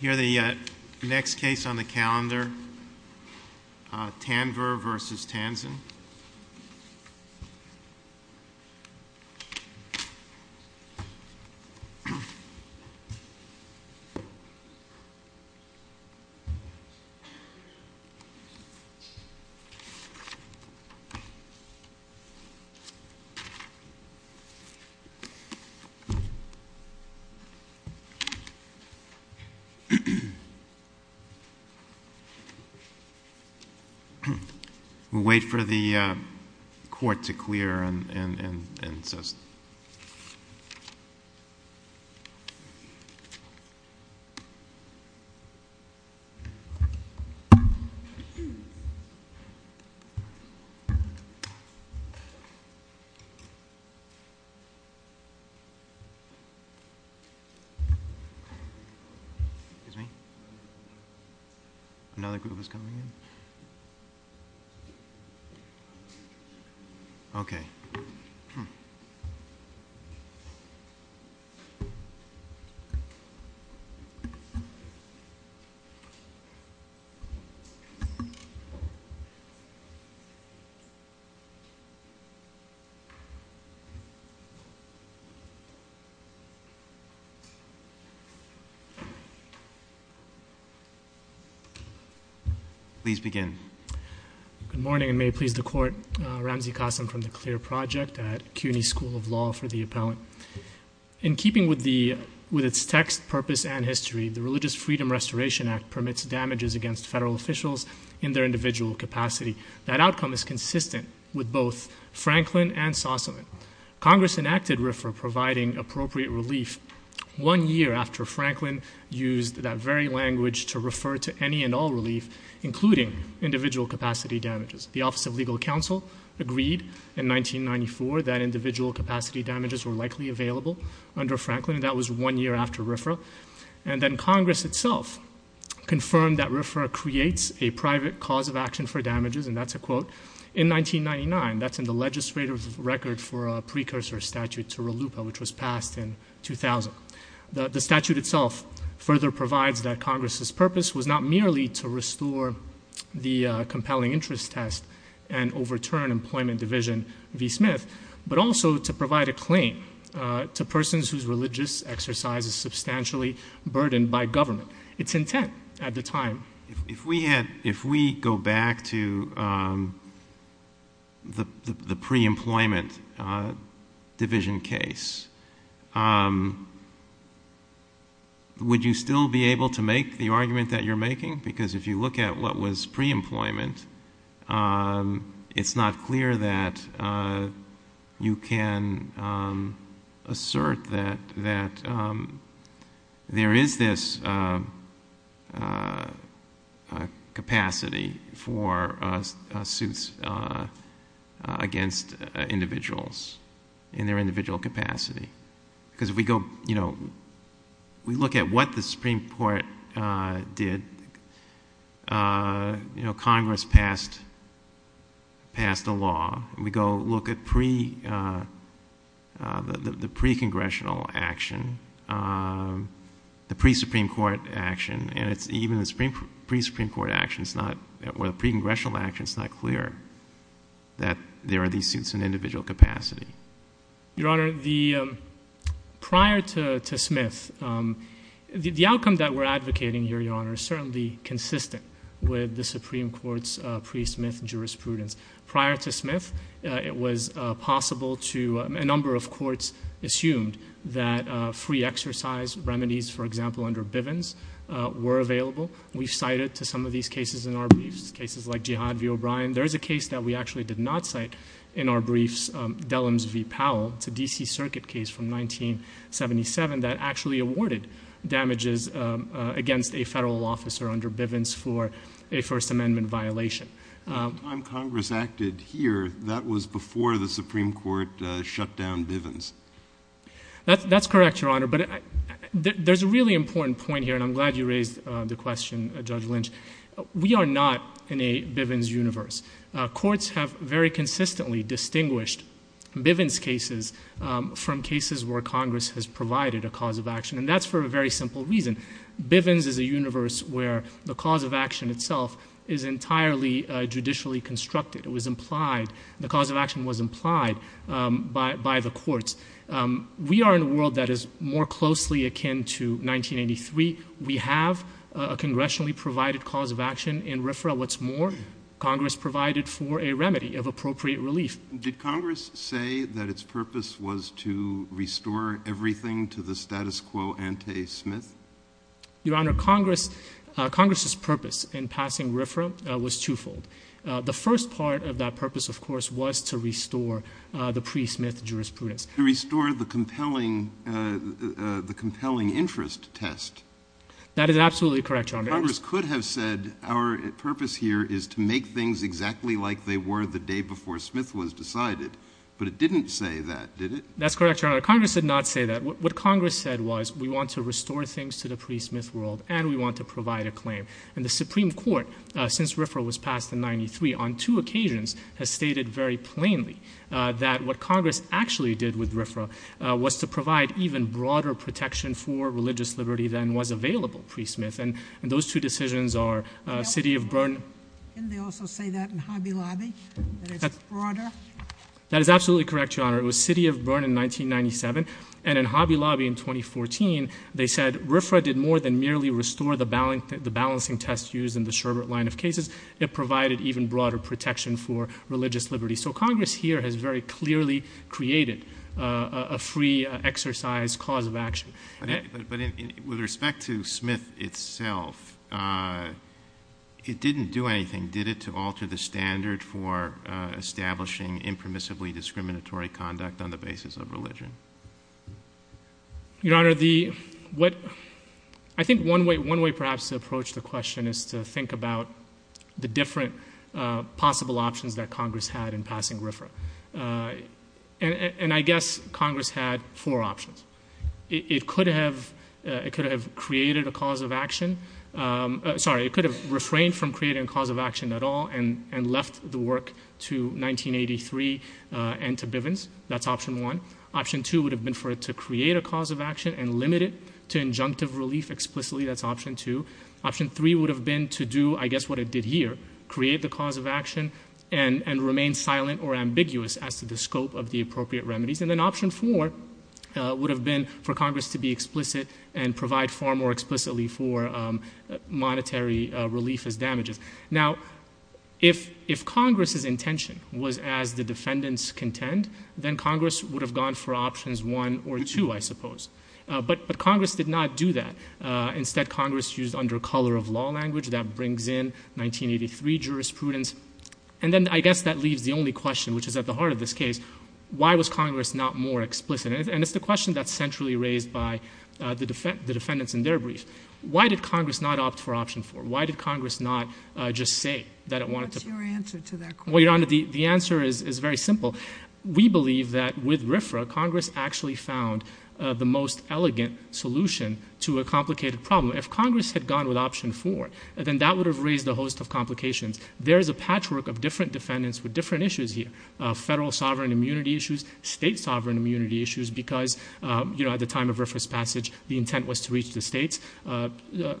Here is the next case on the calendar, Tanvir v. Tanzen. We'll wait for the court to clear and insist. Excuse me. Another group is coming in. Please begin. Tanvir v. Comey If we go back to the pre-employment division case, would you still be able to make the argument that you're making? Because if you look at what was pre-employment, it's not clear that you can assert that there is this capacity for suits against individuals in their individual capacity. Because if we look at what the Supreme Court did, Congress passed a law. If we go look at the pre-congressional action, the pre-Supreme Court action, and even the pre-Supreme Court action or the pre-congressional action, it's not clear that there are these suits in individual capacity. Your Honor, prior to Smith, the outcome that we're advocating here, Your Honor, is certainly consistent with the Supreme Court's pre-Smith jurisprudence. Prior to Smith, it was possible to a number of courts assumed that free exercise remedies, for example, under Bivens, were available. We've cited to some of these cases in our briefs, cases like Jihad v. O'Brien. There is a case that we actually did not cite in our briefs, Dellums v. Powell. It's a D.C. Circuit case from 1977 that actually awarded damages against a federal officer under Bivens for a First Amendment violation. The time Congress acted here, that was before the Supreme Court shut down Bivens. That's correct, Your Honor, but there's a really important point here, and I'm glad you raised the question, Judge Lynch. We are not in a Bivens universe. Courts have very consistently distinguished Bivens cases from cases where Congress has provided a cause of action, and that's for a very simple reason. Bivens is a universe where the cause of action itself is entirely judicially constructed. It was implied, the cause of action was implied by the courts. We are in a world that is more closely akin to 1983. We have a congressionally provided cause of action in RFRA. What's more, Congress provided for a remedy of appropriate relief. Did Congress say that its purpose was to restore everything to the status quo ante smith? Your Honor, Congress's purpose in passing RFRA was twofold. The first part of that purpose, of course, was to restore the pre-Smith jurisprudence. To restore the compelling interest test. That is absolutely correct, Your Honor. Congress could have said our purpose here is to make things exactly like they were the day before Smith was decided, but it didn't say that, did it? That's correct, Your Honor. Congress did not say that. What Congress said was we want to restore things to the pre-Smith world, and we want to provide a claim. The Supreme Court, since RFRA was passed in 1993, on two occasions has stated very plainly that what Congress actually did with RFRA was to provide even broader protection for religious liberty than was available pre-Smith. Those two decisions are City of Bern. Didn't they also say that in Hobby Lobby? That it's broader? That is absolutely correct, Your Honor. It was City of Bern in 1997, and in Hobby Lobby in 2014, they said RFRA did more than merely restore the balancing test used in the Sherbert line of cases. It provided even broader protection for religious liberty. So Congress here has very clearly created a free exercise cause of action. But with respect to Smith itself, it didn't do anything, did it, to alter the standard for establishing impermissibly discriminatory conduct on the basis of religion? Your Honor, I think one way perhaps to approach the question is to think about the different possible options that Congress had in passing RFRA. And I guess Congress had four options. It could have created a cause of action. Sorry, it could have refrained from creating a cause of action at all and left the work to 1983 and to Bivens. That's option one. Option two would have been for it to create a cause of action and limit it to injunctive relief explicitly. That's option two. Option three would have been to do, I guess, what it did here, create the cause of action and remain silent or ambiguous as to the scope of the appropriate remedies. And then option four would have been for Congress to be explicit and provide far more explicitly for monetary relief as damages. Now, if Congress's intention was as the defendants contend, then Congress would have gone for options one or two, I suppose. But Congress did not do that. Instead, Congress used under color of law language. That brings in 1983 jurisprudence. And then I guess that leaves the only question, which is at the heart of this case, why was Congress not more explicit? And it's the question that's centrally raised by the defendants in their brief. Why did Congress not opt for option four? Why did Congress not just say that it wanted to? What's your answer to that question? Well, Your Honor, the answer is very simple. We believe that with RFRA, Congress actually found the most elegant solution to a complicated problem. If Congress had gone with option four, then that would have raised a host of complications. There is a patchwork of different defendants with different issues here, federal sovereign immunity issues, state sovereign immunity issues, because, you know, at the time of RFRA's passage, the intent was to reach the states.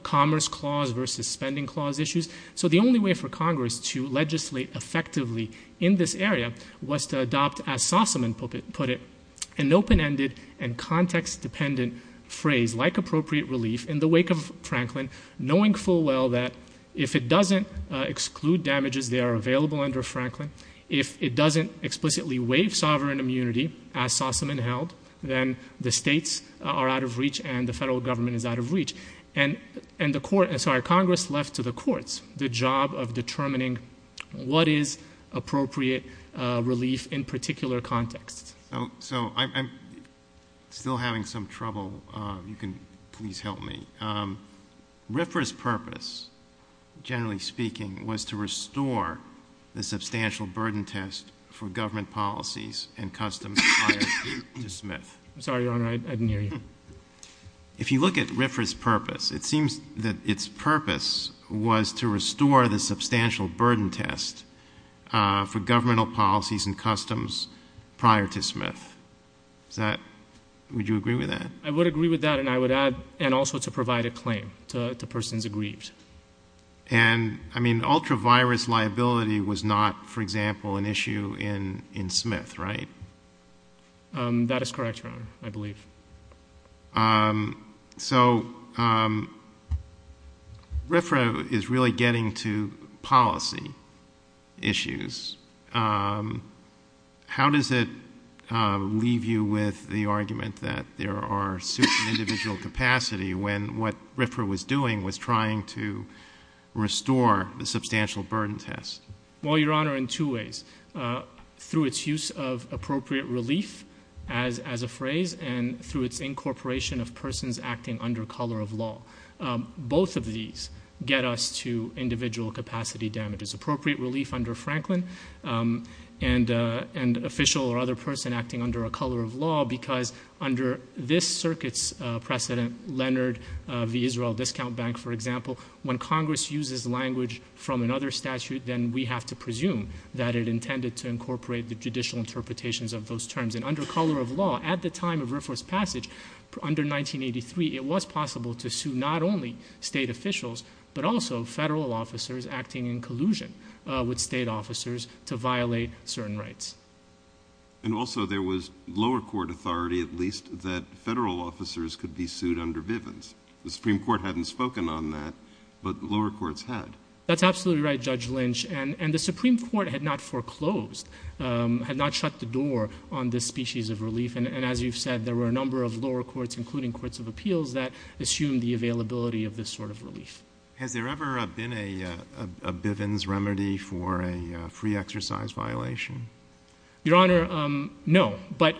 Commerce clause versus spending clause issues. So the only way for Congress to legislate effectively in this area was to adopt, as Sossaman put it, an open-ended and context-dependent phrase like appropriate relief in the wake of Franklin, knowing full well that if it doesn't exclude damages, they are available under Franklin. If it doesn't explicitly waive sovereign immunity, as Sossaman held, then the states are out of reach and the federal government is out of reach. And Congress left to the courts the job of determining what is appropriate relief in particular contexts. So I'm still having some trouble. You can please help me. RFRA's purpose, generally speaking, was to restore the substantial burden test for government policies and customs prior to Smith. I'm sorry, Your Honor, I didn't hear you. If you look at RFRA's purpose, it seems that its purpose was to restore the substantial burden test for governmental policies and customs prior to Smith. Would you agree with that? I would agree with that, and I would add, and also to provide a claim to persons aggrieved. And, I mean, ultra-virus liability was not, for example, an issue in Smith, right? That is correct, Your Honor, I believe. So RFRA is really getting to policy issues. How does it leave you with the argument that there are suits in individual capacity when what RFRA was doing was trying to restore the substantial burden test? Well, Your Honor, in two ways. Through its use of appropriate relief as a phrase and through its incorporation of persons acting under color of law. Both of these get us to individual capacity damages. Appropriate relief under Franklin and official or other person acting under a color of law because under this circuit's precedent, Leonard v. Israel Discount Bank, for example, when Congress uses language from another statute, then we have to presume that it intended to incorporate the judicial interpretations of those terms. And under color of law, at the time of Riffra's passage, under 1983, it was possible to sue not only state officials but also federal officers acting in collusion with state officers to violate certain rights. And also there was lower court authority, at least, that federal officers could be sued under Bivens. The Supreme Court hadn't spoken on that, but lower courts had. That's absolutely right, Judge Lynch. And the Supreme Court had not foreclosed, had not shut the door on this species of relief. And as you've said, there were a number of lower courts, including courts of appeals, that assumed the availability of this sort of relief. Has there ever been a Bivens remedy for a free exercise violation? Your Honor, no. But,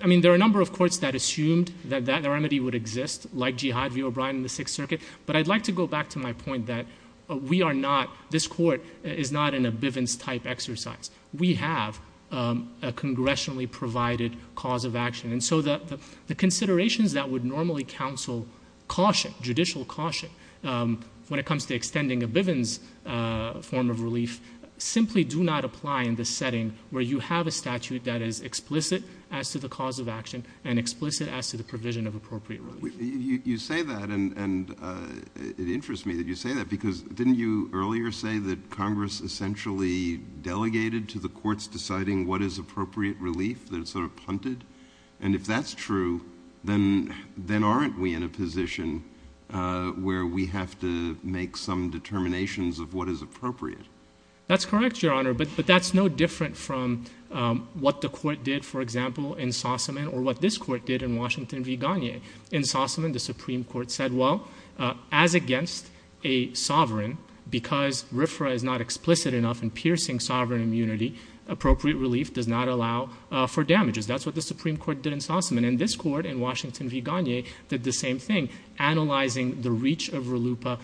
I mean, there are a number of courts that assumed like Jihad v. O'Brien in the Sixth Circuit. But I'd like to go back to my point that we are not, this Court is not in a Bivens-type exercise. We have a congressionally provided cause of action. And so the considerations that would normally counsel caution, judicial caution, when it comes to extending a Bivens form of relief simply do not apply in the setting where you have a statute that is explicit as to the cause of action and explicit as to the provision of appropriate relief. You say that, and it interests me that you say that, because didn't you earlier say that Congress essentially delegated to the courts deciding what is appropriate relief, that it's sort of punted? And if that's true, then aren't we in a position where we have to make some determinations of what is appropriate? That's correct, Your Honor, but that's no different from what the Court did, for example, in Sossaman, or what this Court did in Washington v. Gagne. In Sossaman, the Supreme Court said, well, as against a sovereign, because RFRA is not explicit enough in piercing sovereign immunity, appropriate relief does not allow for damages. That's what the Supreme Court did in Sossaman. And this Court in Washington v. Gagne did the same thing, analyzing the reach of RLUIPA,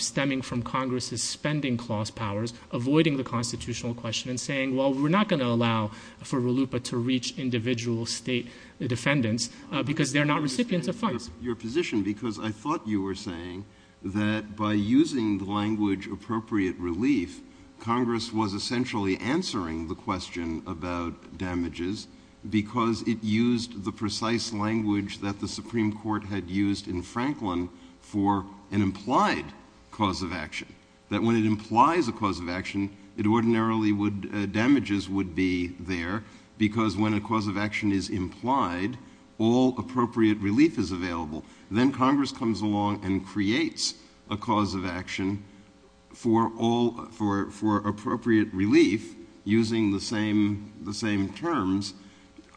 stemming from Congress's spending clause powers, avoiding the constitutional question and saying, well, we're not going to allow for RLUIPA to reach individual state defendants because they're not recipients of funds. Your position, because I thought you were saying that by using the language appropriate relief, Congress was essentially answering the question about damages because it used the precise language that the Supreme Court had used in Franklin for an implied cause of action, that when it implies a cause of action, that ordinarily damages would be there because when a cause of action is implied, all appropriate relief is available. Then Congress comes along and creates a cause of action for appropriate relief using the same terms.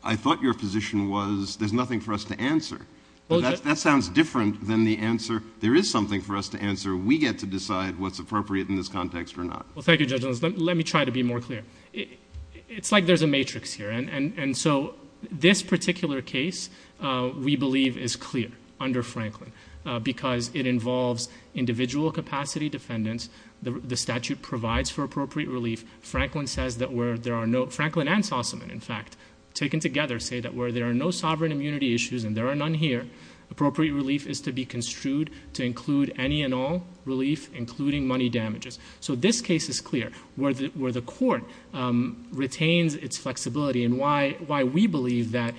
I thought your position was there's nothing for us to answer. That sounds different than the answer there is something for us to answer. We get to decide what's appropriate in this context or not. Well, thank you, Judge Luz. Let me try to be more clear. It's like there's a matrix here. This particular case, we believe, is clear under Franklin because it involves individual capacity defendants. The statute provides for appropriate relief. Franklin and Sussman, in fact, taken together, say that where there are no sovereign immunity issues, and there are none here, appropriate relief is to be construed to include any and all relief, including money damages. So this case is clear where the court retains its flexibility and why we believe that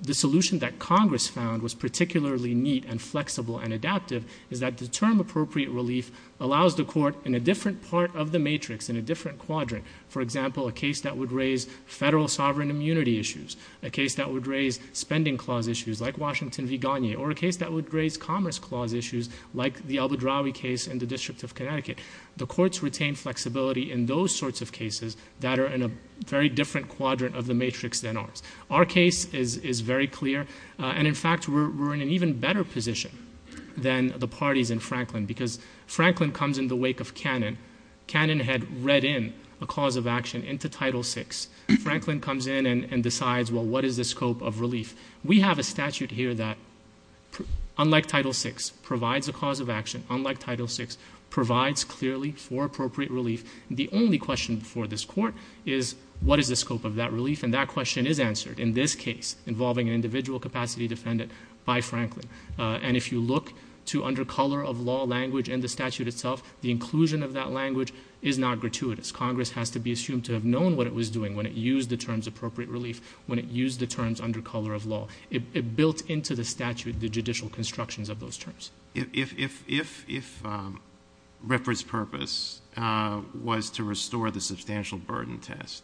the solution that Congress found was particularly neat and flexible and adaptive is that the term appropriate relief allows the court in a different part of the matrix, in a different quadrant. For example, a case that would raise federal sovereign immunity issues, a case that would raise spending clause issues like Washington v. Gagne, or a case that would raise commerce clause issues like the Abu Dhabi case in the District of Connecticut. The courts retain flexibility in those sorts of cases that are in a very different quadrant of the matrix than ours. Our case is very clear, and in fact, we're in an even better position than the parties in Franklin because Franklin comes in the wake of Cannon. Cannon had read in a cause of action into Title VI. Franklin comes in and decides, well, what is the scope of relief? We have a statute here that, unlike Title VI, provides a cause of action. Unlike Title VI, provides clearly for appropriate relief. The only question for this court is what is the scope of that relief, and that question is answered in this case involving an individual capacity defendant by Franklin. And if you look to under color of law language in the statute itself, the inclusion of that language is not gratuitous. Congress has to be assumed to have known what it was doing when it used the terms appropriate relief, when it used the terms under color of law. It built into the statute the judicial constructions of those terms. If Ripper's purpose was to restore the substantial burden test,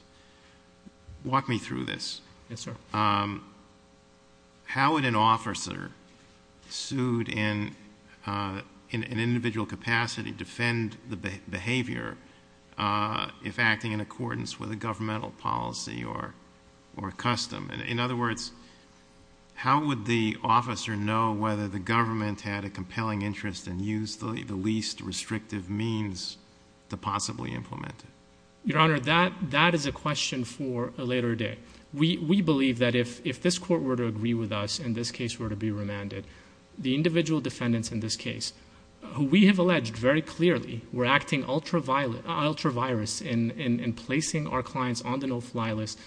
walk me through this. Yes, sir. How would an officer sued in an individual capacity defend the behavior if acting in accordance with a governmental policy or custom? In other words, how would the officer know whether the government had a compelling interest and used the least restrictive means to possibly implement it? Your Honor, that is a question for a later day. We believe that if this court were to agree with us, in this case were to be remanded, the individual defendants in this case, who we have alleged very clearly were acting ultraviolet...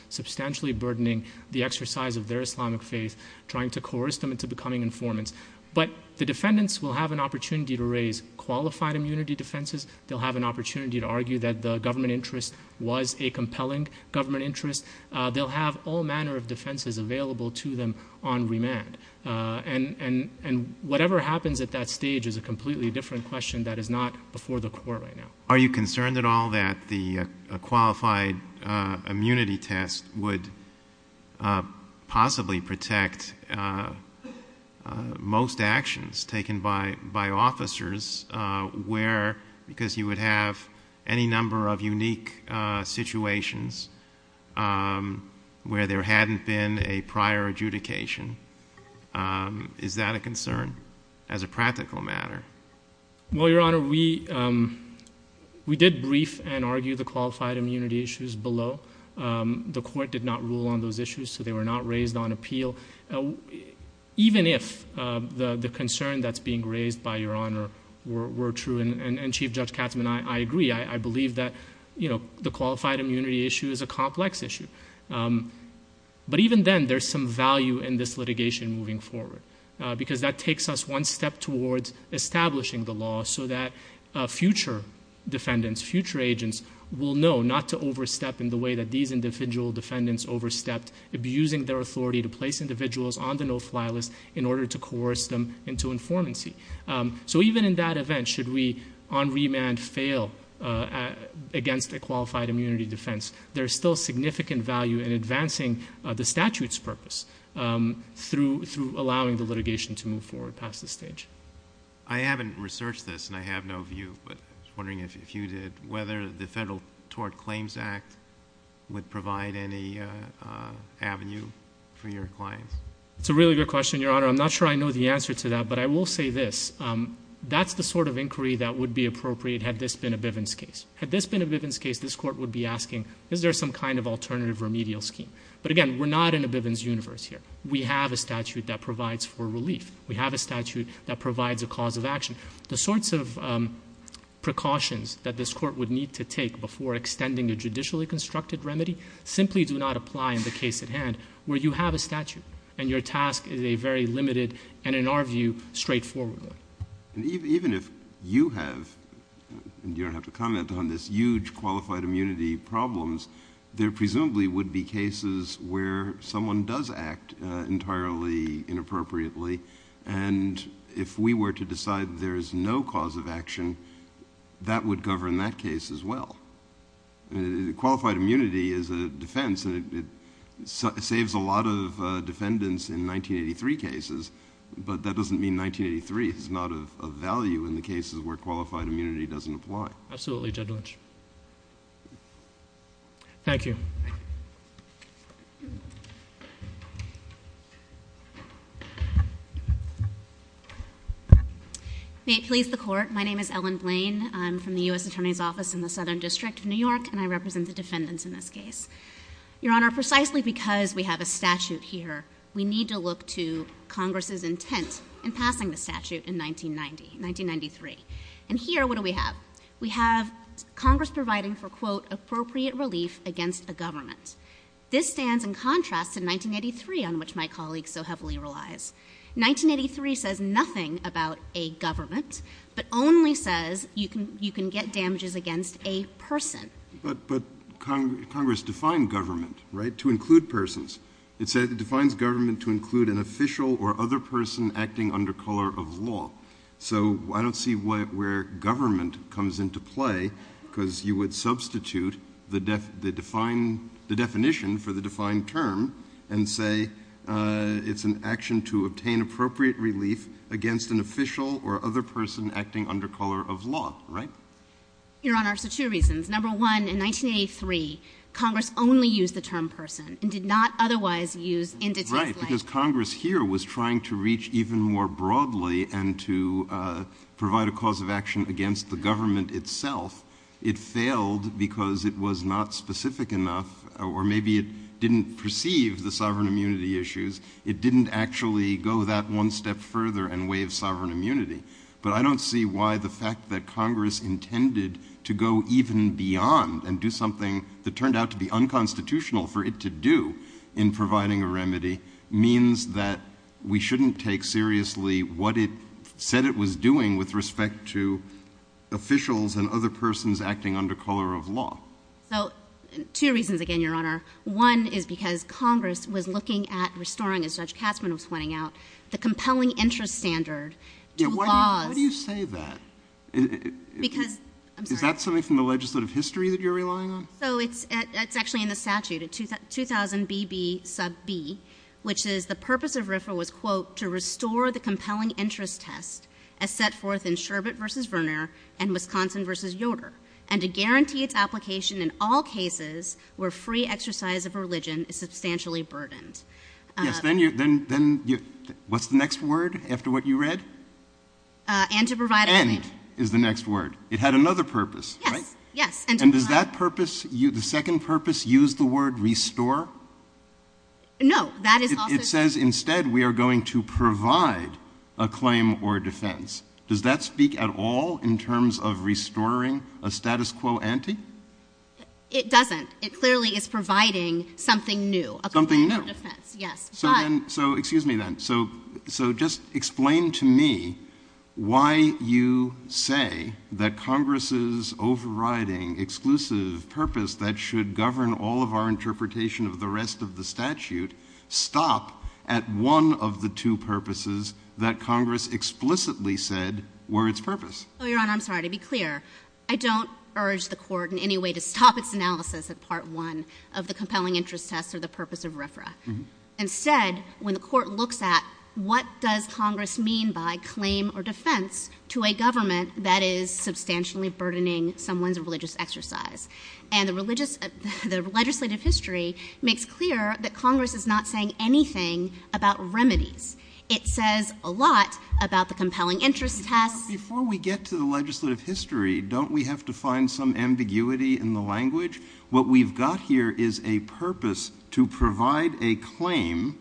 substantially burdening the exercise of their Islamic faith, trying to coerce them into becoming informants. But the defendants will have an opportunity to raise qualified immunity defenses. They'll have an opportunity to argue that the government interest was a compelling government interest. They'll have all manner of defenses available to them on remand. And whatever happens at that stage is a completely different question that is not before the court right now. Are you concerned at all that the qualified immunity test would possibly protect most actions taken by officers because you would have any number of unique situations where there hadn't been a prior adjudication? Is that a concern as a practical matter? Well, Your Honor, we did brief and argue the qualified immunity issues below. The court did not rule on those issues, so they were not raised on appeal. Even if the concern that's being raised by Your Honor were true, and Chief Judge Katzmann, I agree. I believe that the qualified immunity issue is a complex issue. But even then, there's some value in this litigation moving forward because that takes us one step towards establishing the law so that future defendants, future agents, will know not to overstep in the way that these individual defendants overstepped, abusing their authority to place individuals on the no-fly list in order to coerce them into informancy. So even in that event, should we on remand fail against a qualified immunity defense, there's still significant value in advancing the statute's purpose through allowing the litigation to move forward past this stage. I haven't researched this, and I have no view, but I was wondering if you did, whether the Federal Tort Claims Act would provide any avenue for your clients. It's a really good question, Your Honor. I'm not sure I know the answer to that, but I will say this. That's the sort of inquiry that would be appropriate had this been a Bivens case. Had this been a Bivens case, this court would be asking, is there some kind of alternative remedial scheme? But, again, we're not in a Bivens universe here. We have a statute that provides for relief. We have a statute that provides a cause of action. The sorts of precautions that this court would need to take before extending a judicially constructed remedy simply do not apply in the case at hand where you have a statute and your task is a very limited and, in our view, straightforward one. Even if you have, and you don't have to comment on this, huge qualified immunity problems, there presumably would be cases where someone does act entirely inappropriately, and if we were to decide there is no cause of action, that would govern that case as well. Qualified immunity is a defense, and it saves a lot of defendants in 1983 cases, but that doesn't mean 1983 is not of value in the cases where qualified immunity doesn't apply. Absolutely, Judge Lynch. Thank you. May it please the Court. My name is Ellen Blain. I'm from the U.S. Attorney's Office in the Southern District of New York, and I represent the defendants in this case. Your Honor, precisely because we have a statute here, we need to look to Congress's intent in passing the statute in 1993. And here, what do we have? We have Congress providing for, quote, appropriate relief against a government. This stands in contrast to 1983, on which my colleague so heavily relies. 1983 says nothing about a government, but only says you can get damages against a person. But Congress defined government, right, to include persons. It defines government to include an official or other person acting under color of law. So I don't see where government comes into play, because you would substitute the definition for the defined term and say it's an action to obtain appropriate relief against an official or other person acting under color of law, right? Your Honor, it's for two reasons. Number one, in 1983, Congress only used the term person and did not otherwise use indices like. Right, because Congress here was trying to reach even more broadly and to provide a cause of action against the government itself. It failed because it was not specific enough, or maybe it didn't perceive the sovereign immunity issues. It didn't actually go that one step further and waive sovereign immunity. But I don't see why the fact that Congress intended to go even beyond and do something that turned out to be unconstitutional for it to do in providing a remedy means that we shouldn't take seriously what it said it was doing with respect to officials and other persons acting under color of law. So two reasons again, Your Honor. One is because Congress was looking at restoring, as Judge Katzmann was pointing out, the compelling interest standard to laws. Yeah, why do you say that? Because, I'm sorry. Is that something from the legislative history that you're relying on? So it's actually in the statute, 2000BB sub B, which is the purpose of RFRA was, quote, to restore the compelling interest test as set forth in Sherbet v. Verner and Wisconsin v. Yoder and to guarantee its application in all cases where free exercise of religion is substantially burdened. Yes, then what's the next word after what you read? And to provide a remedy. And is the next word. It had another purpose, right? Yes, yes. And does that purpose, the second purpose, use the word restore? No, that is also. It says instead we are going to provide a claim or defense. Does that speak at all in terms of restoring a status quo ante? It doesn't. It clearly is providing something new, a claim or defense. Something new. Yes, but. So excuse me then. So just explain to me why you say that Congress's overriding exclusive purpose that should govern all of our interpretation of the rest of the statute stop at one of the two purposes that Congress explicitly said were its purpose. Oh, Your Honor, I'm sorry. To be clear, I don't urge the Court in any way to stop its analysis at part one of the compelling interest test or the purpose of RFRA. Instead, when the Court looks at what does Congress mean by claim or defense to a government that is substantially burdening someone's religious exercise and the legislative history makes clear that Congress is not saying anything about remedies. It says a lot about the compelling interest test. Before we get to the legislative history, don't we have to find some ambiguity in the language? What we've got here is a purpose to provide a claim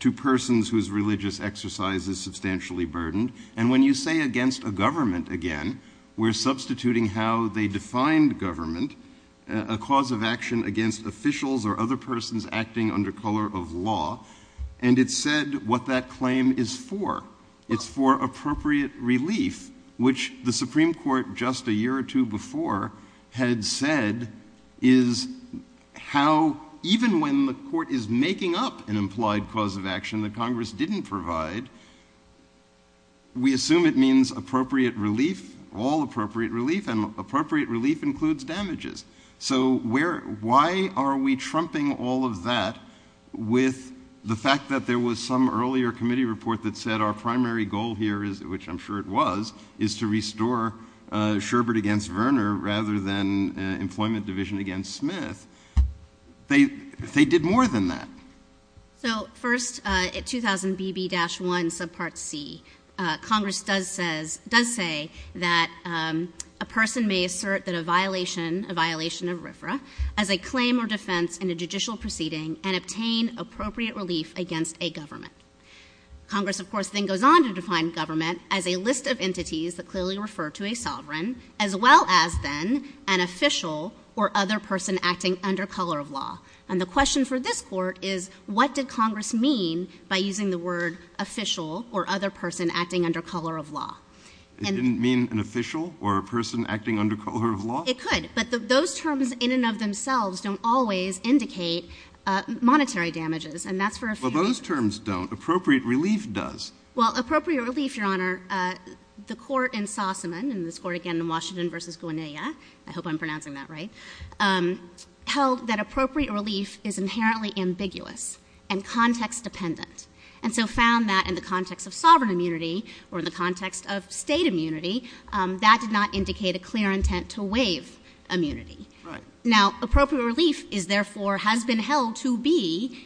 to persons whose religious exercise is substantially burdened. And when you say against a government again, we're substituting how they defined government, a cause of action against officials or other persons acting under color of law, and it said what that claim is for. It's for appropriate relief, which the Supreme Court just a year or two before had said is how, even when the Court is making up an implied cause of action that Congress didn't provide, we assume it means appropriate relief, all appropriate relief, and appropriate relief includes damages. So why are we trumping all of that with the fact that there was some earlier committee report that said our primary goal here, which I'm sure it was, is to restore Sherbert against Verner rather than Employment Division against Smith. They did more than that. So first, at 2000BB-1 subpart C, Congress does say that a person may assert that a violation of RFRA as a claim or defense in a judicial proceeding and obtain appropriate relief against a government. Congress, of course, then goes on to define government as a list of entities that clearly refer to a sovereign as well as then an official or other person acting under color of law. And the question for this Court is what did Congress mean by using the word official or other person acting under color of law? It didn't mean an official or a person acting under color of law? It could, but those terms in and of themselves don't always indicate monetary damages, and that's for a few. Well, those terms don't. Appropriate relief does. Well, appropriate relief, Your Honor, the court in Sossaman, and this court again in Washington v. Guinea, I hope I'm pronouncing that right, held that appropriate relief is inherently ambiguous and context-dependent, and so found that in the context of sovereign immunity or in the context of state immunity, that did not indicate a clear intent to waive immunity. Right. Now, appropriate relief is therefore has been held to be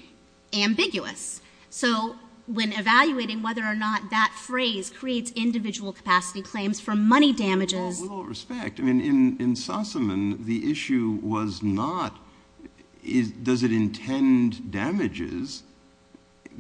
ambiguous. So when evaluating whether or not that phrase creates individual capacity claims for money damages. With all respect, I mean, in Sossaman, the issue was not does it intend damages,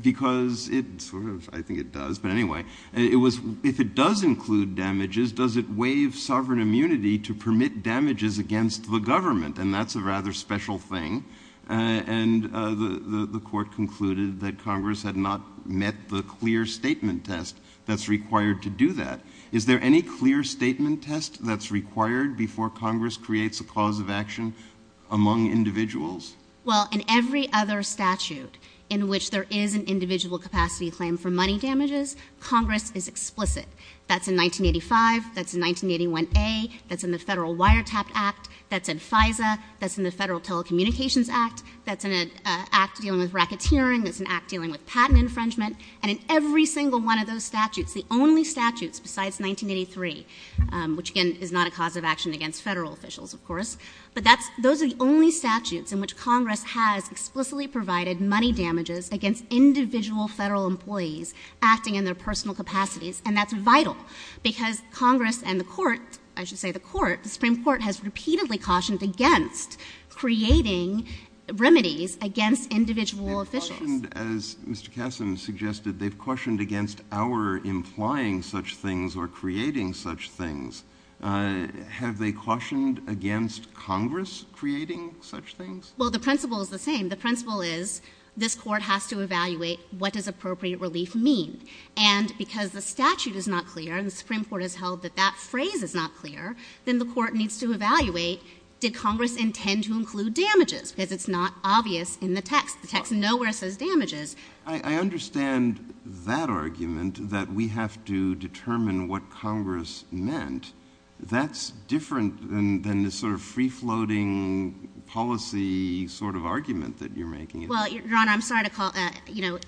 because it sort of I think it does, but anyway, it was if it does include damages, does it waive sovereign immunity to permit damages against the government? And that's a rather special thing. And the court concluded that Congress had not met the clear statement test that's required to do that. Is there any clear statement test that's required before Congress creates a cause of action among individuals? Well, in every other statute in which there is an individual capacity claim for money damages, Congress is explicit. That's in 1985. That's in 1981A. That's in the Federal Wiretapped Act. That's in FISA. That's in the Federal Telecommunications Act. That's in an act dealing with racketeering. That's an act dealing with patent infringement. And in every single one of those statutes, the only statutes besides 1983, which again is not a cause of action against Federal officials, of course, but that's those are the only statutes in which Congress has explicitly provided money damages against individual Federal employees acting in their personal capacities, and that's vital because Congress and the Court, I should say the Court, the Supreme Court has repeatedly cautioned against creating remedies against individual officials. They've cautioned, as Mr. Kassem suggested, they've cautioned against our implying such things or creating such things. Have they cautioned against Congress creating such things? Well, the principle is the same. The principle is this Court has to evaluate what does appropriate relief mean. And because the statute is not clear and the Supreme Court has held that that phrase is not clear, then the Court needs to evaluate did Congress intend to include damages because it's not obvious in the text. The text nowhere says damages. I understand that argument that we have to determine what Congress meant. That's different than the sort of free-floating policy sort of argument that you're making. Well, Your Honor, I'm sorry to call, you know,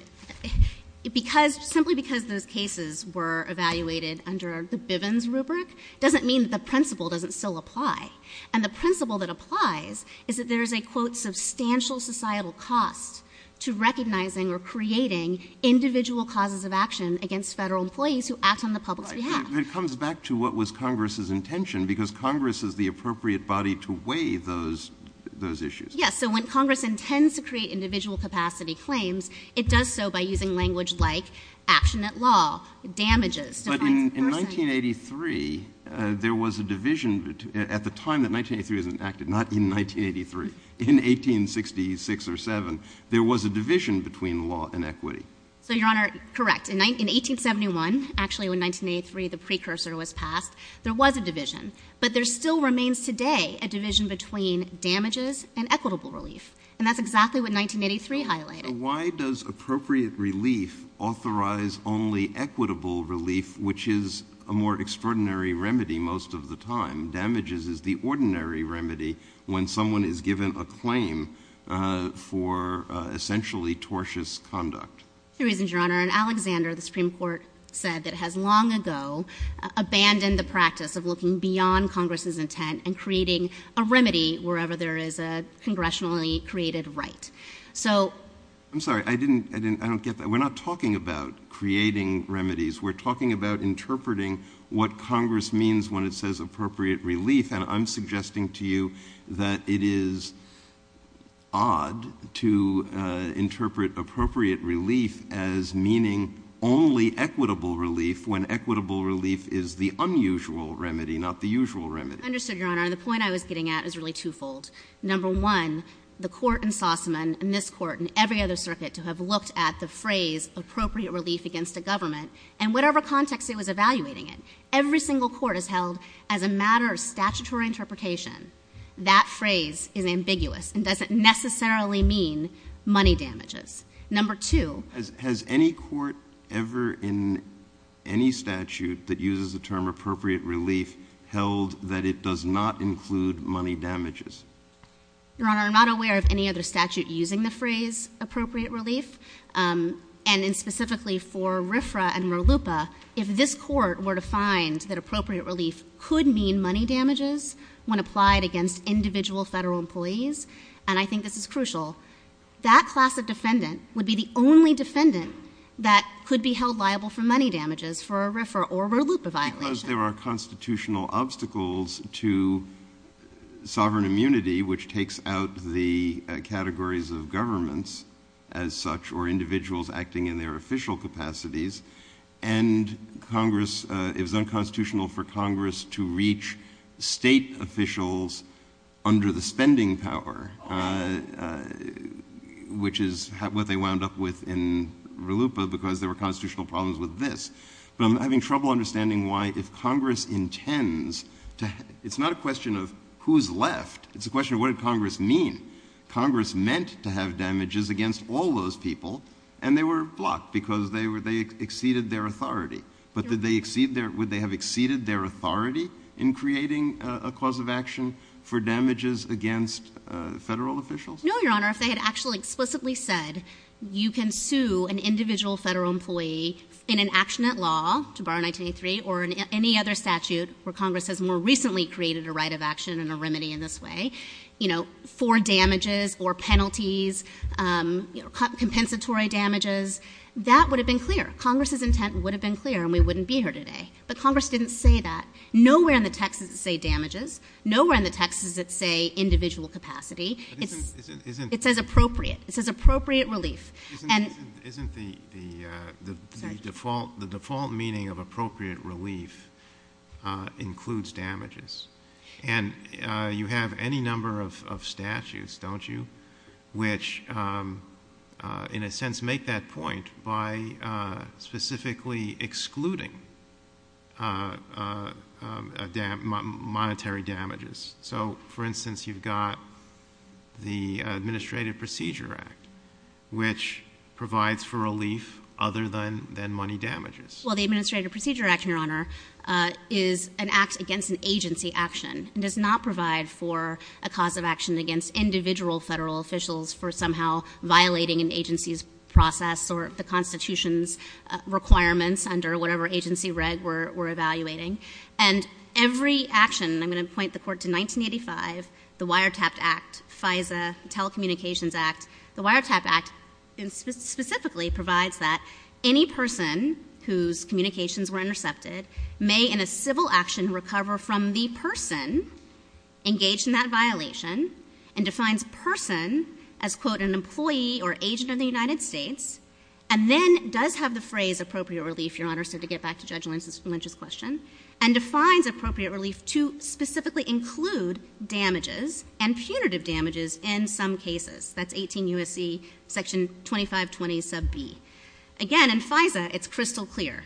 because simply because those cases were evaluated under the Bivens rubric doesn't mean that the principle doesn't still apply. And the principle that applies is that there is a, quote, substantial societal cost to recognizing or creating individual causes of action against Federal employees who act on the public's behalf. Right. It comes back to what was Congress's intention because Congress is the appropriate body to weigh those issues. Yes. So when Congress intends to create individual capacity claims, it does so by using language like action at law, damages, defines person. But in 1983, there was a division at the time that 1983 was enacted, not in 1983. In 1866 or 1867, there was a division between law and equity. So, Your Honor, correct. In 1871, actually, when 1983, the precursor was passed, there was a division. But there still remains today a division between damages and equitable relief. And that's exactly what 1983 highlighted. Why does appropriate relief authorize only equitable relief, which is a more extraordinary remedy most of the time? Damages is the ordinary remedy when someone is given a claim for essentially tortious conduct. Three reasons, Your Honor. And Alexander, the Supreme Court said that has long ago abandoned the practice of looking beyond Congress's intent and creating a remedy wherever there is a congressionally created right. So— I'm sorry. I didn't—I don't get that. We're not talking about creating remedies. We're talking about interpreting what Congress means when it says appropriate relief. And I'm suggesting to you that it is odd to interpret appropriate relief as meaning only equitable relief when equitable relief is the unusual remedy, not the usual remedy. Understood, Your Honor. The point I was getting at is really twofold. Number one, the Court in Sossaman and this Court and every other circuit to have looked at the phrase appropriate relief against a government, and whatever context it was evaluating it, every single court has held as a matter of statutory interpretation that phrase is ambiguous and doesn't necessarily mean money damages. Number two— Has any court ever in any statute that uses the term appropriate relief held that it does not include money damages? Your Honor, I'm not aware of any other statute using the phrase appropriate relief. And specifically for RFRA and RLUIPA, if this Court were to find that appropriate relief could mean money damages when applied against individual federal employees—and I think this is crucial—that class of defendant would be the only defendant that could be held liable for money damages for a RFRA or RLUIPA violation. Because there are constitutional obstacles to sovereign immunity, which takes out the categories of governments as such or individuals acting in their official capacities, and Congress—it was unconstitutional for Congress to reach state officials under the spending power, which is what they wound up with in RLUIPA because there were constitutional problems with this. But I'm having trouble understanding why if Congress intends to—it's not a question of who's left. It's a question of what did Congress mean. Congress meant to have damages against all those people, and they were blocked because they exceeded their authority. But would they have exceeded their authority in creating a cause of action for damages against federal officials? No, Your Honor. If they had actually explicitly said you can sue an individual federal employee in an action at law, to bar 1983, or in any other statute where Congress has more recently created a right of action and a remedy in this way, for damages or penalties, compensatory damages, that would have been clear. Congress's intent would have been clear, and we wouldn't be here today. But Congress didn't say that. Nowhere in the text does it say damages. Nowhere in the text does it say individual capacity. It says appropriate. It says appropriate relief. Isn't the default meaning of appropriate relief includes damages? And you have any number of statutes, don't you, which in a sense make that point by specifically excluding monetary damages. So, for instance, you've got the Administrative Procedure Act, which provides for relief other than money damages. Well, the Administrative Procedure Act, Your Honor, is an act against an agency action. It does not provide for a cause of action against individual federal officials for somehow violating an agency's process or the Constitution's requirements under whatever agency reg we're evaluating. And every action, and I'm going to point the Court to 1985, the Wiretapped Act, FISA, Telecommunications Act, the Wiretapped Act specifically provides that any person whose communications were intercepted may in a civil action recover from the person engaged in that violation and defines person as, quote, an employee or agent of the United States, and then does have the phrase appropriate relief, Your Honor, so to get back to Judge Lynch's question, and defines appropriate relief to specifically include damages and punitive damages in some cases. That's 18 U.S.C. section 2520 sub B. Again, in FISA, it's crystal clear.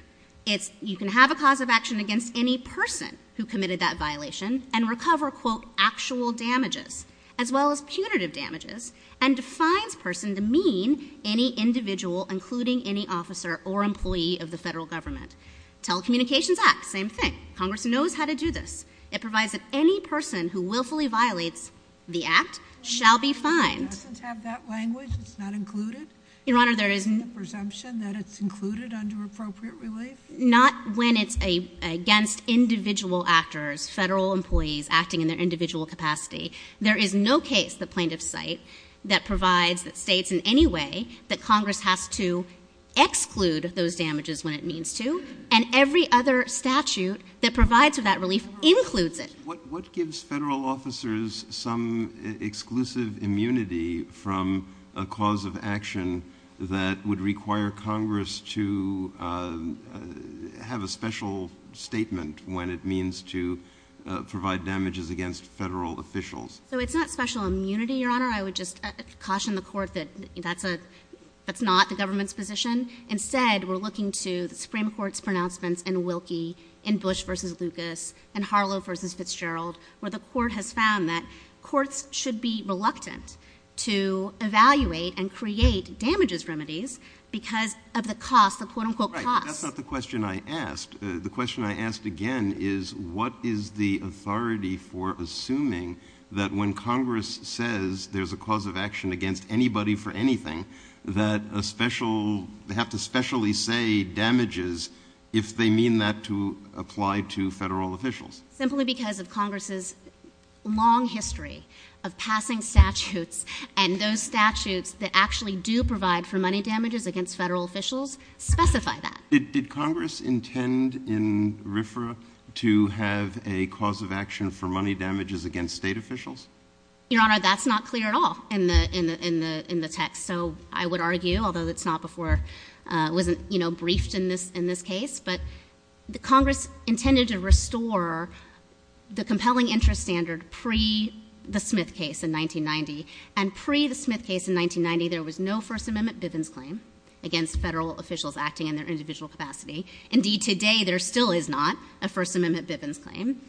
You can have a cause of action against any person who committed that violation and recover, quote, actual damages as well as punitive damages and defines person to mean any individual including any officer or employee of the federal government. Telecommunications Act, same thing. Congress knows how to do this. It provides that any person who willfully violates the act shall be fined. It doesn't have that language. It's not included. Your Honor, there is no presumption that it's included under appropriate relief. Not when it's against individual actors, federal employees acting in their individual capacity. There is no case, the plaintiff's site, that provides, that states in any way that Congress has to exclude those damages when it means to, and every other statute that provides for that relief includes it. What gives federal officers some exclusive immunity from a cause of action that would require Congress to have a special statement when it means to provide damages against federal officials? So it's not special immunity, Your Honor. I would just caution the court that that's not the government's position. Instead, we're looking to the Supreme Court's pronouncements in Wilkie, in Bush v. Lucas, in Harlow v. Fitzgerald, where the court has found that courts should be reluctant to evaluate and create damages remedies because of the cost, the quote-unquote cost. That's not the question I asked. The question I asked again is what is the authority for assuming that when Congress says there's a cause of action against anybody for anything, that they have to specially say damages if they mean that to apply to federal officials? Simply because of Congress's long history of passing statutes and those statutes that actually do provide for money damages against federal officials specify that. Did Congress intend in RFRA to have a cause of action for money damages against state officials? Your Honor, that's not clear at all in the text. So I would argue, although it's not before it wasn't briefed in this case, but Congress intended to restore the compelling interest standard pre-the Smith case in 1990. And pre-the Smith case in 1990, there was no First Amendment Bivens claim against federal officials acting in their individual capacity. Indeed, today there still is not a First Amendment Bivens claim.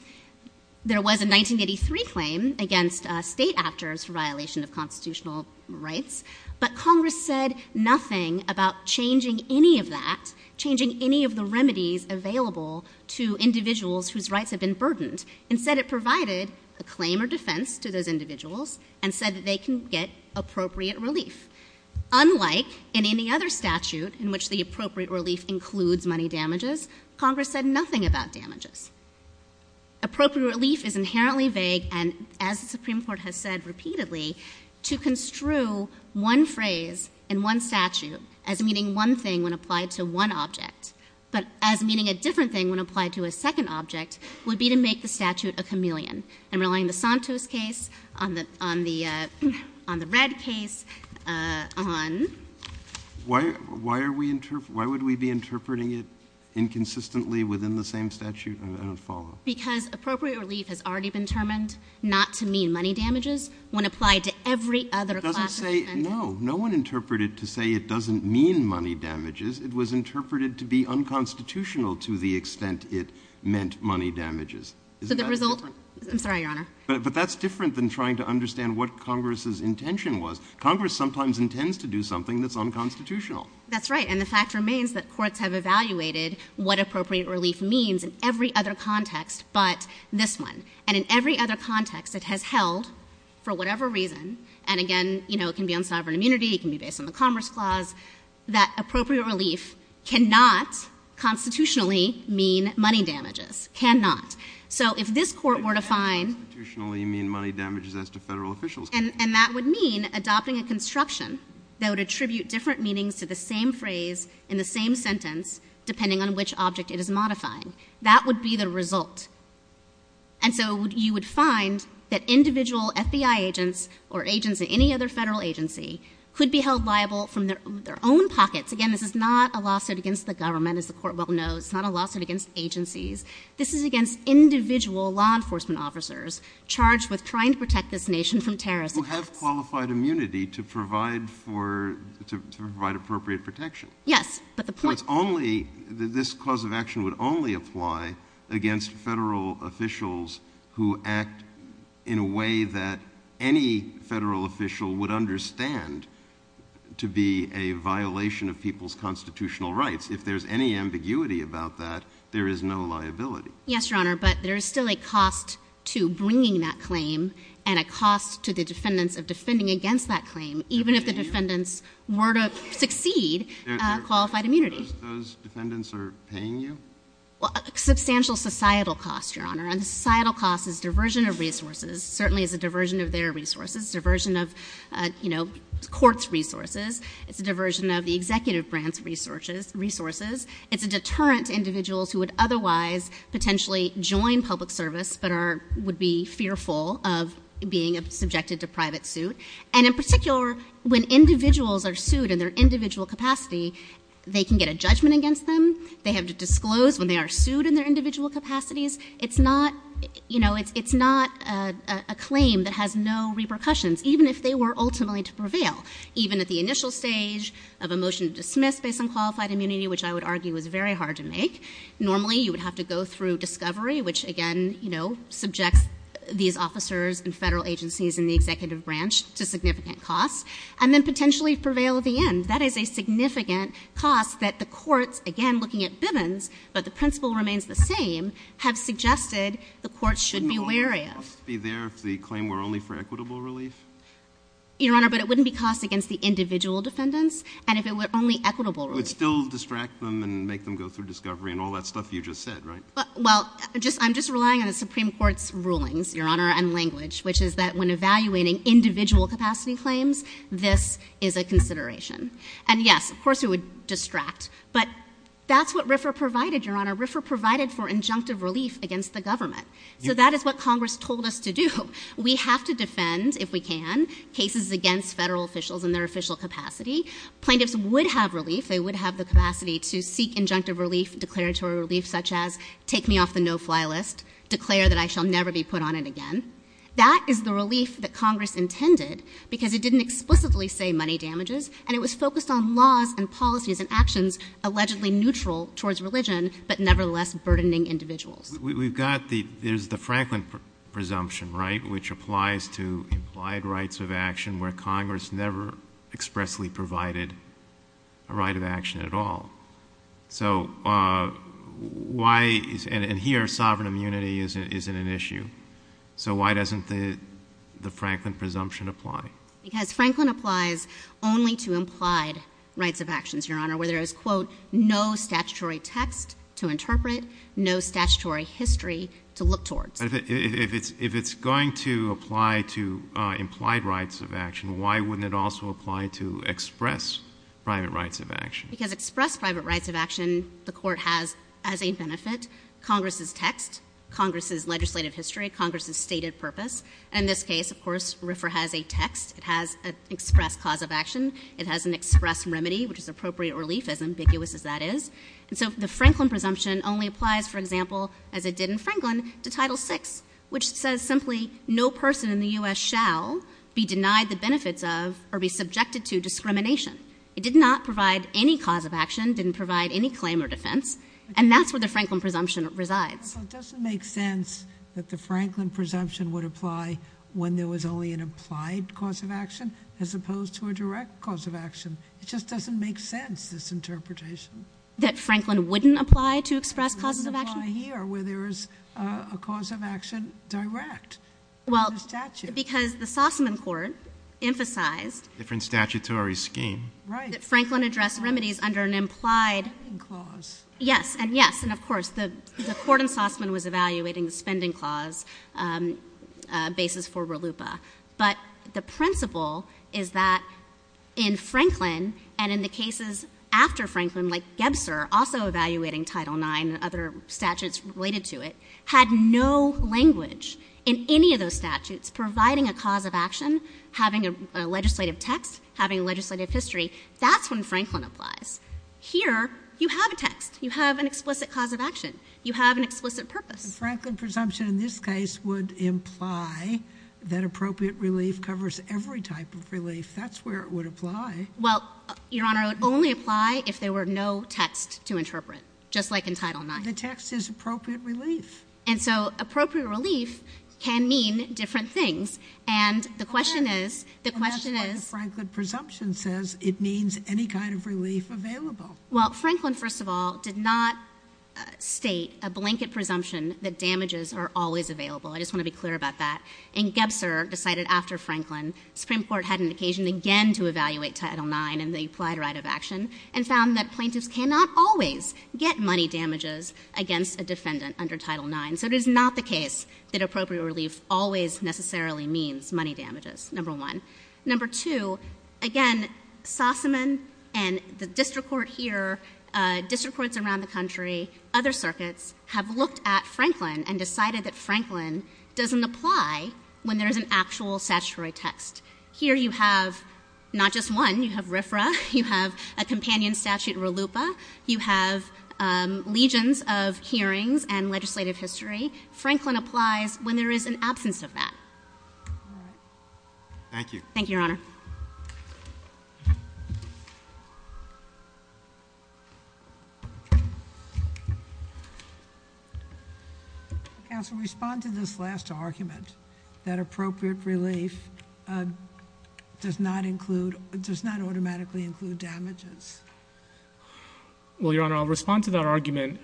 There was a 1983 claim against state actors for violation of constitutional rights, but Congress said nothing about changing any of that, changing any of the remedies available to individuals whose rights have been burdened. Instead, it provided a claim or defense to those individuals and said that they can get appropriate relief. Unlike in any other statute in which the appropriate relief includes money damages, Congress said nothing about damages. Appropriate relief is inherently vague and, as the Supreme Court has said repeatedly, to construe one phrase in one statute as meaning one thing when applied to one object, but as meaning a different thing when applied to a second object, would be to make the statute a chameleon. And relying on the Santos case, on the Red case, on — Why are we — why would we be interpreting it inconsistently within the same statute? I don't follow. Because appropriate relief has already been determined not to mean money damages when applied to every other classification. It doesn't say — no. No one interpreted it to say it doesn't mean money damages. It was interpreted to be unconstitutional to the extent it meant money damages. So the result — I'm sorry, Your Honor. But that's different than trying to understand what Congress's intention was. Congress sometimes intends to do something that's unconstitutional. That's right. And the fact remains that courts have evaluated what appropriate relief means in every other context but this one. And in every other context it has held, for whatever reason, and again, you know, it can be on sovereign immunity, it can be based on the Commerce Clause, that appropriate relief cannot constitutionally mean money damages. Cannot. So if this Court were to find — It cannot constitutionally mean money damages as to Federal officials. And that would mean adopting a construction that would attribute different meanings to the same phrase in the same sentence depending on which object it is modifying. That would be the result. And so you would find that individual FBI agents or agents at any other Federal agency could be held liable from their own pockets. Again, this is not a lawsuit against the government, as the Court well knows. It's not a lawsuit against agencies. This is against individual law enforcement officers charged with trying to protect this nation from terrorist attacks. Who have qualified immunity to provide appropriate protection. Yes, but the point— This clause of action would only apply against Federal officials who act in a way that any Federal official would understand to be a violation of people's constitutional rights. If there's any ambiguity about that, there is no liability. Yes, Your Honor, but there is still a cost to bringing that claim and a cost to the defendants of defending against that claim even if the defendants were to succeed qualified immunity. Those defendants are paying you? Substantial societal cost, Your Honor. And the societal cost is diversion of resources. Certainly it's a diversion of their resources. It's a diversion of, you know, court's resources. It's a diversion of the executive branch's resources. It's a deterrent to individuals who would otherwise potentially join public service but would be fearful of being subjected to private suit. And in particular, when individuals are sued in their individual capacity, they can get a judgment against them. They have to disclose when they are sued in their individual capacities. It's not, you know, it's not a claim that has no repercussions even if they were ultimately to prevail. Even at the initial stage of a motion to dismiss based on qualified immunity, which I would argue is very hard to make, normally you would have to go through discovery, which again, you know, subjects these officers and federal agencies and the executive branch to significant costs, and then potentially prevail at the end. That is a significant cost that the courts, again, looking at Bivens, but the principle remains the same, have suggested the courts should be wary of. Shouldn't all the costs be there if the claim were only for equitable relief? Your Honor, but it wouldn't be costs against the individual defendants, and if it were only equitable relief. You would still distract them and make them go through discovery and all that stuff you just said, right? Well, I'm just relying on the Supreme Court's rulings, Your Honor, and language, which is that when evaluating individual capacity claims, this is a consideration. And yes, of course it would distract, but that's what RFRA provided, Your Honor. RFRA provided for injunctive relief against the government. So that is what Congress told us to do. We have to defend, if we can, cases against federal officials in their official capacity. Plaintiffs would have relief. They would have the capacity to seek injunctive relief, declaratory relief, such as take me off the no-fly list, declare that I shall never be put on it again. That is the relief that Congress intended because it didn't explicitly say money damages, and it was focused on laws and policies and actions allegedly neutral towards religion, but nevertheless burdening individuals. We've got the Franklin presumption, right, which applies to implied rights of action where Congress never expressly provided a right of action at all. And here, sovereign immunity isn't an issue. So why doesn't the Franklin presumption apply? Because Franklin applies only to implied rights of actions, Your Honor, where there is, quote, no statutory text to interpret, no statutory history to look towards. If it's going to apply to implied rights of action, why wouldn't it also apply to express private rights of action? Because express private rights of action the court has as a benefit Congress's text, Congress's legislative history, Congress's stated purpose. In this case, of course, RFRA has a text. It has an express cause of action. It has an express remedy, which is appropriate relief, as ambiguous as that is. And so the Franklin presumption only applies, for example, as it did in Franklin, to Title VI, which says simply no person in the U.S. shall be denied the benefits of or be subjected to discrimination. It did not provide any cause of action, didn't provide any claim or defense, and that's where the Franklin presumption resides. So it doesn't make sense that the Franklin presumption would apply when there was only an applied cause of action as opposed to a direct cause of action. It just doesn't make sense, this interpretation. That Franklin wouldn't apply to express causes of action? It wouldn't apply here, where there is a cause of action direct under statute. Well, because the Saussman court emphasized- Different statutory scheme. Right. That Franklin addressed remedies under an implied- Spending clause. Yes, and yes. And of course, the court in Saussman was evaluating the spending clause basis for RLUIPA. But the principle is that in Franklin and in the cases after Franklin, like Gebser also evaluating Title IX and other statutes related to it, had no language in any of those statutes providing a cause of action, having a legislative text, having a legislative history. That's when Franklin applies. Here, you have a text. You have an explicit cause of action. You have an explicit purpose. Franklin presumption in this case would imply that appropriate relief covers every type of relief. That's where it would apply. Well, Your Honor, it would only apply if there were no text to interpret, just like in Title IX. The text is appropriate relief. And so appropriate relief can mean different things. And the question is- Franklin presumption says it means any kind of relief available. Well, Franklin, first of all, did not state a blanket presumption that damages are always available. I just want to be clear about that. And Gebser decided after Franklin, the Supreme Court had an occasion again to evaluate Title IX and the implied right of action and found that plaintiffs cannot always get money damages against a defendant under Title IX. So it is not the case that appropriate relief always necessarily means money damages, number one. Number two, again, Sossaman and the district court here, district courts around the country, other circuits, have looked at Franklin and decided that Franklin doesn't apply when there is an actual statutory text. Here you have not just one. You have RFRA. You have a companion statute, RLUIPA. You have legions of hearings and legislative history. Franklin applies when there is an absence of that. All right. Thank you. Thank you, Your Honor. Counsel, respond to this last argument that appropriate relief does not include- does not automatically include damages. Well, Your Honor, I'll respond to that argument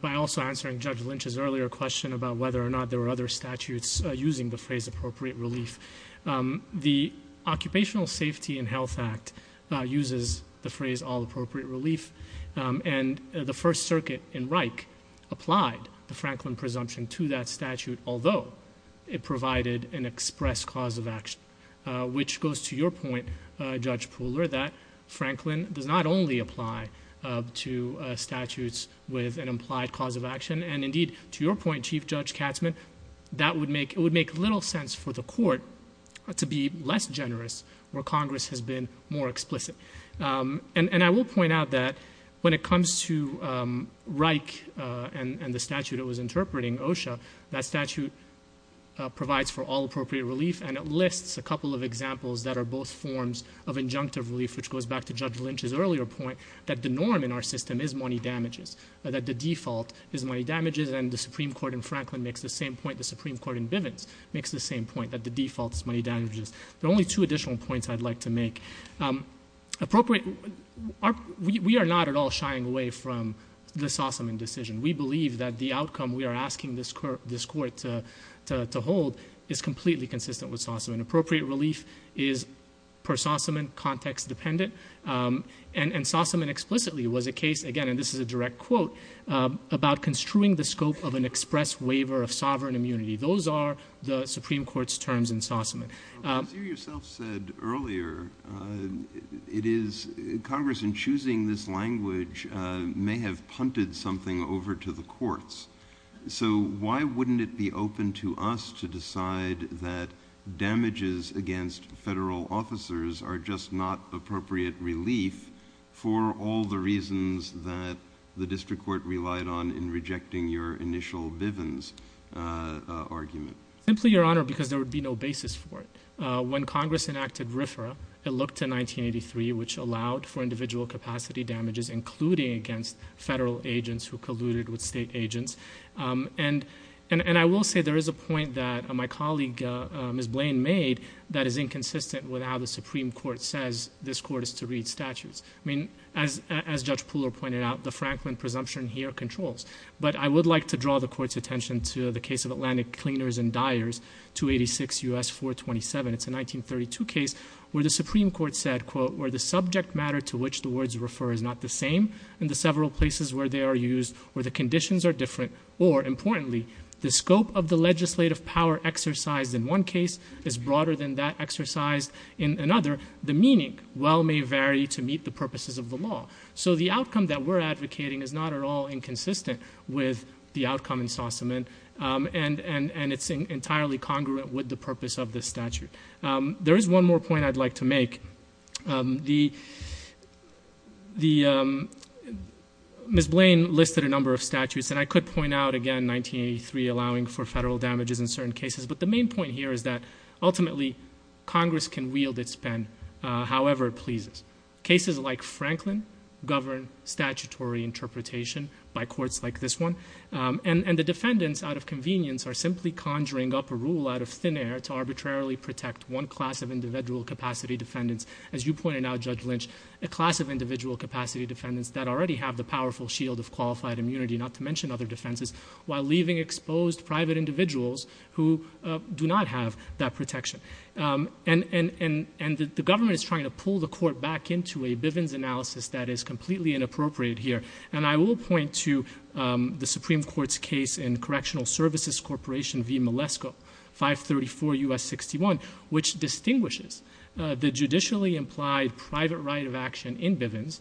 by also answering Judge Lynch's earlier question about whether or not there were other statutes using the phrase appropriate relief. The Occupational Safety and Health Act uses the phrase all appropriate relief, and the First Circuit in Reich applied the Franklin presumption to that statute, although it provided an express cause of action, which goes to your point, Judge Pooler, that Franklin does not only apply to statutes with an implied cause of action, and indeed, to your point, Chief Judge Katzmann, it would make little sense for the court to be less generous where Congress has been more explicit. And I will point out that when it comes to Reich and the statute it was interpreting, OSHA, that statute provides for all appropriate relief, and it lists a couple of examples that are both forms of injunctive relief, which goes back to Judge Lynch's earlier point that the norm in our system is money damages, that the default is money damages, and the Supreme Court in Franklin makes the same point, the Supreme Court in Bivens makes the same point, that the default is money damages. There are only two additional points I'd like to make. We are not at all shying away from the Sossaman decision. We believe that the outcome we are asking this court to hold is completely consistent with Sossaman. Appropriate relief is, per Sossaman, context-dependent, and Sossaman explicitly was a case, again, and this is a direct quote, about construing the scope of an express waiver of sovereign immunity. Those are the Supreme Court's terms in Sossaman. As you yourself said earlier, it is Congress, in choosing this language, may have punted something over to the courts. So why wouldn't it be open to us to decide that damages against federal officers are just not appropriate relief for all the reasons that the district court relied on in rejecting your initial Bivens argument? Simply, Your Honor, because there would be no basis for it. When Congress enacted RFRA, it looked to 1983, which allowed for individual capacity damages, including against federal agents who colluded with state agents. And I will say there is a point that my colleague, Ms. Blaine, made that is inconsistent with how the Supreme Court says this Court is to read statutes. I mean, as Judge Pooler pointed out, the Franklin presumption here controls. But I would like to draw the Court's attention to the case of Atlantic Cleaners and Dyers, 286 U.S. 427. It's a 1932 case where the Supreme Court said, quote, where the subject matter to which the words refer is not the same in the several places where they are used, where the conditions are different, or, importantly, the scope of the legislative power exercised in one case is broader than that exercised in another, the meaning well may vary to meet the purposes of the law. So the outcome that we're advocating is not at all inconsistent with the outcome in Sossaman, and it's entirely congruent with the purpose of this statute. There is one more point I'd like to make. The Ms. Blaine listed a number of statutes, and I could point out, again, 1983, allowing for federal damages in certain cases, but the main point here is that ultimately Congress can wield its pen however it pleases. Cases like Franklin govern statutory interpretation by courts like this one, and the defendants, out of convenience, are simply conjuring up a rule out of thin air to arbitrarily protect one class of individual capacity defendants. As you pointed out, Judge Lynch, a class of individual capacity defendants that already have the powerful shield of qualified immunity, not to mention other defenses, while leaving exposed private individuals who do not have that protection. And the government is trying to pull the court back into a Bivens analysis that is completely inappropriate here, and I will point to the Supreme Court's case in Correctional Services Corporation v. Malesko, 534 U.S. 61, which distinguishes the judicially implied private right of action in Bivens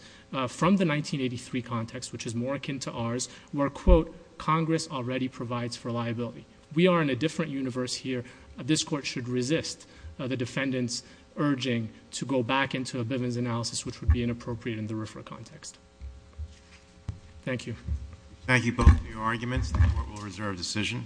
from the 1983 context, which is more akin to ours, where, quote, Congress already provides for liability. We are in a different universe here. This court should resist the defendants urging to go back into a Bivens analysis which would be inappropriate in the RFRA context. Thank you. Thank you both for your arguments. The court will reserve decision.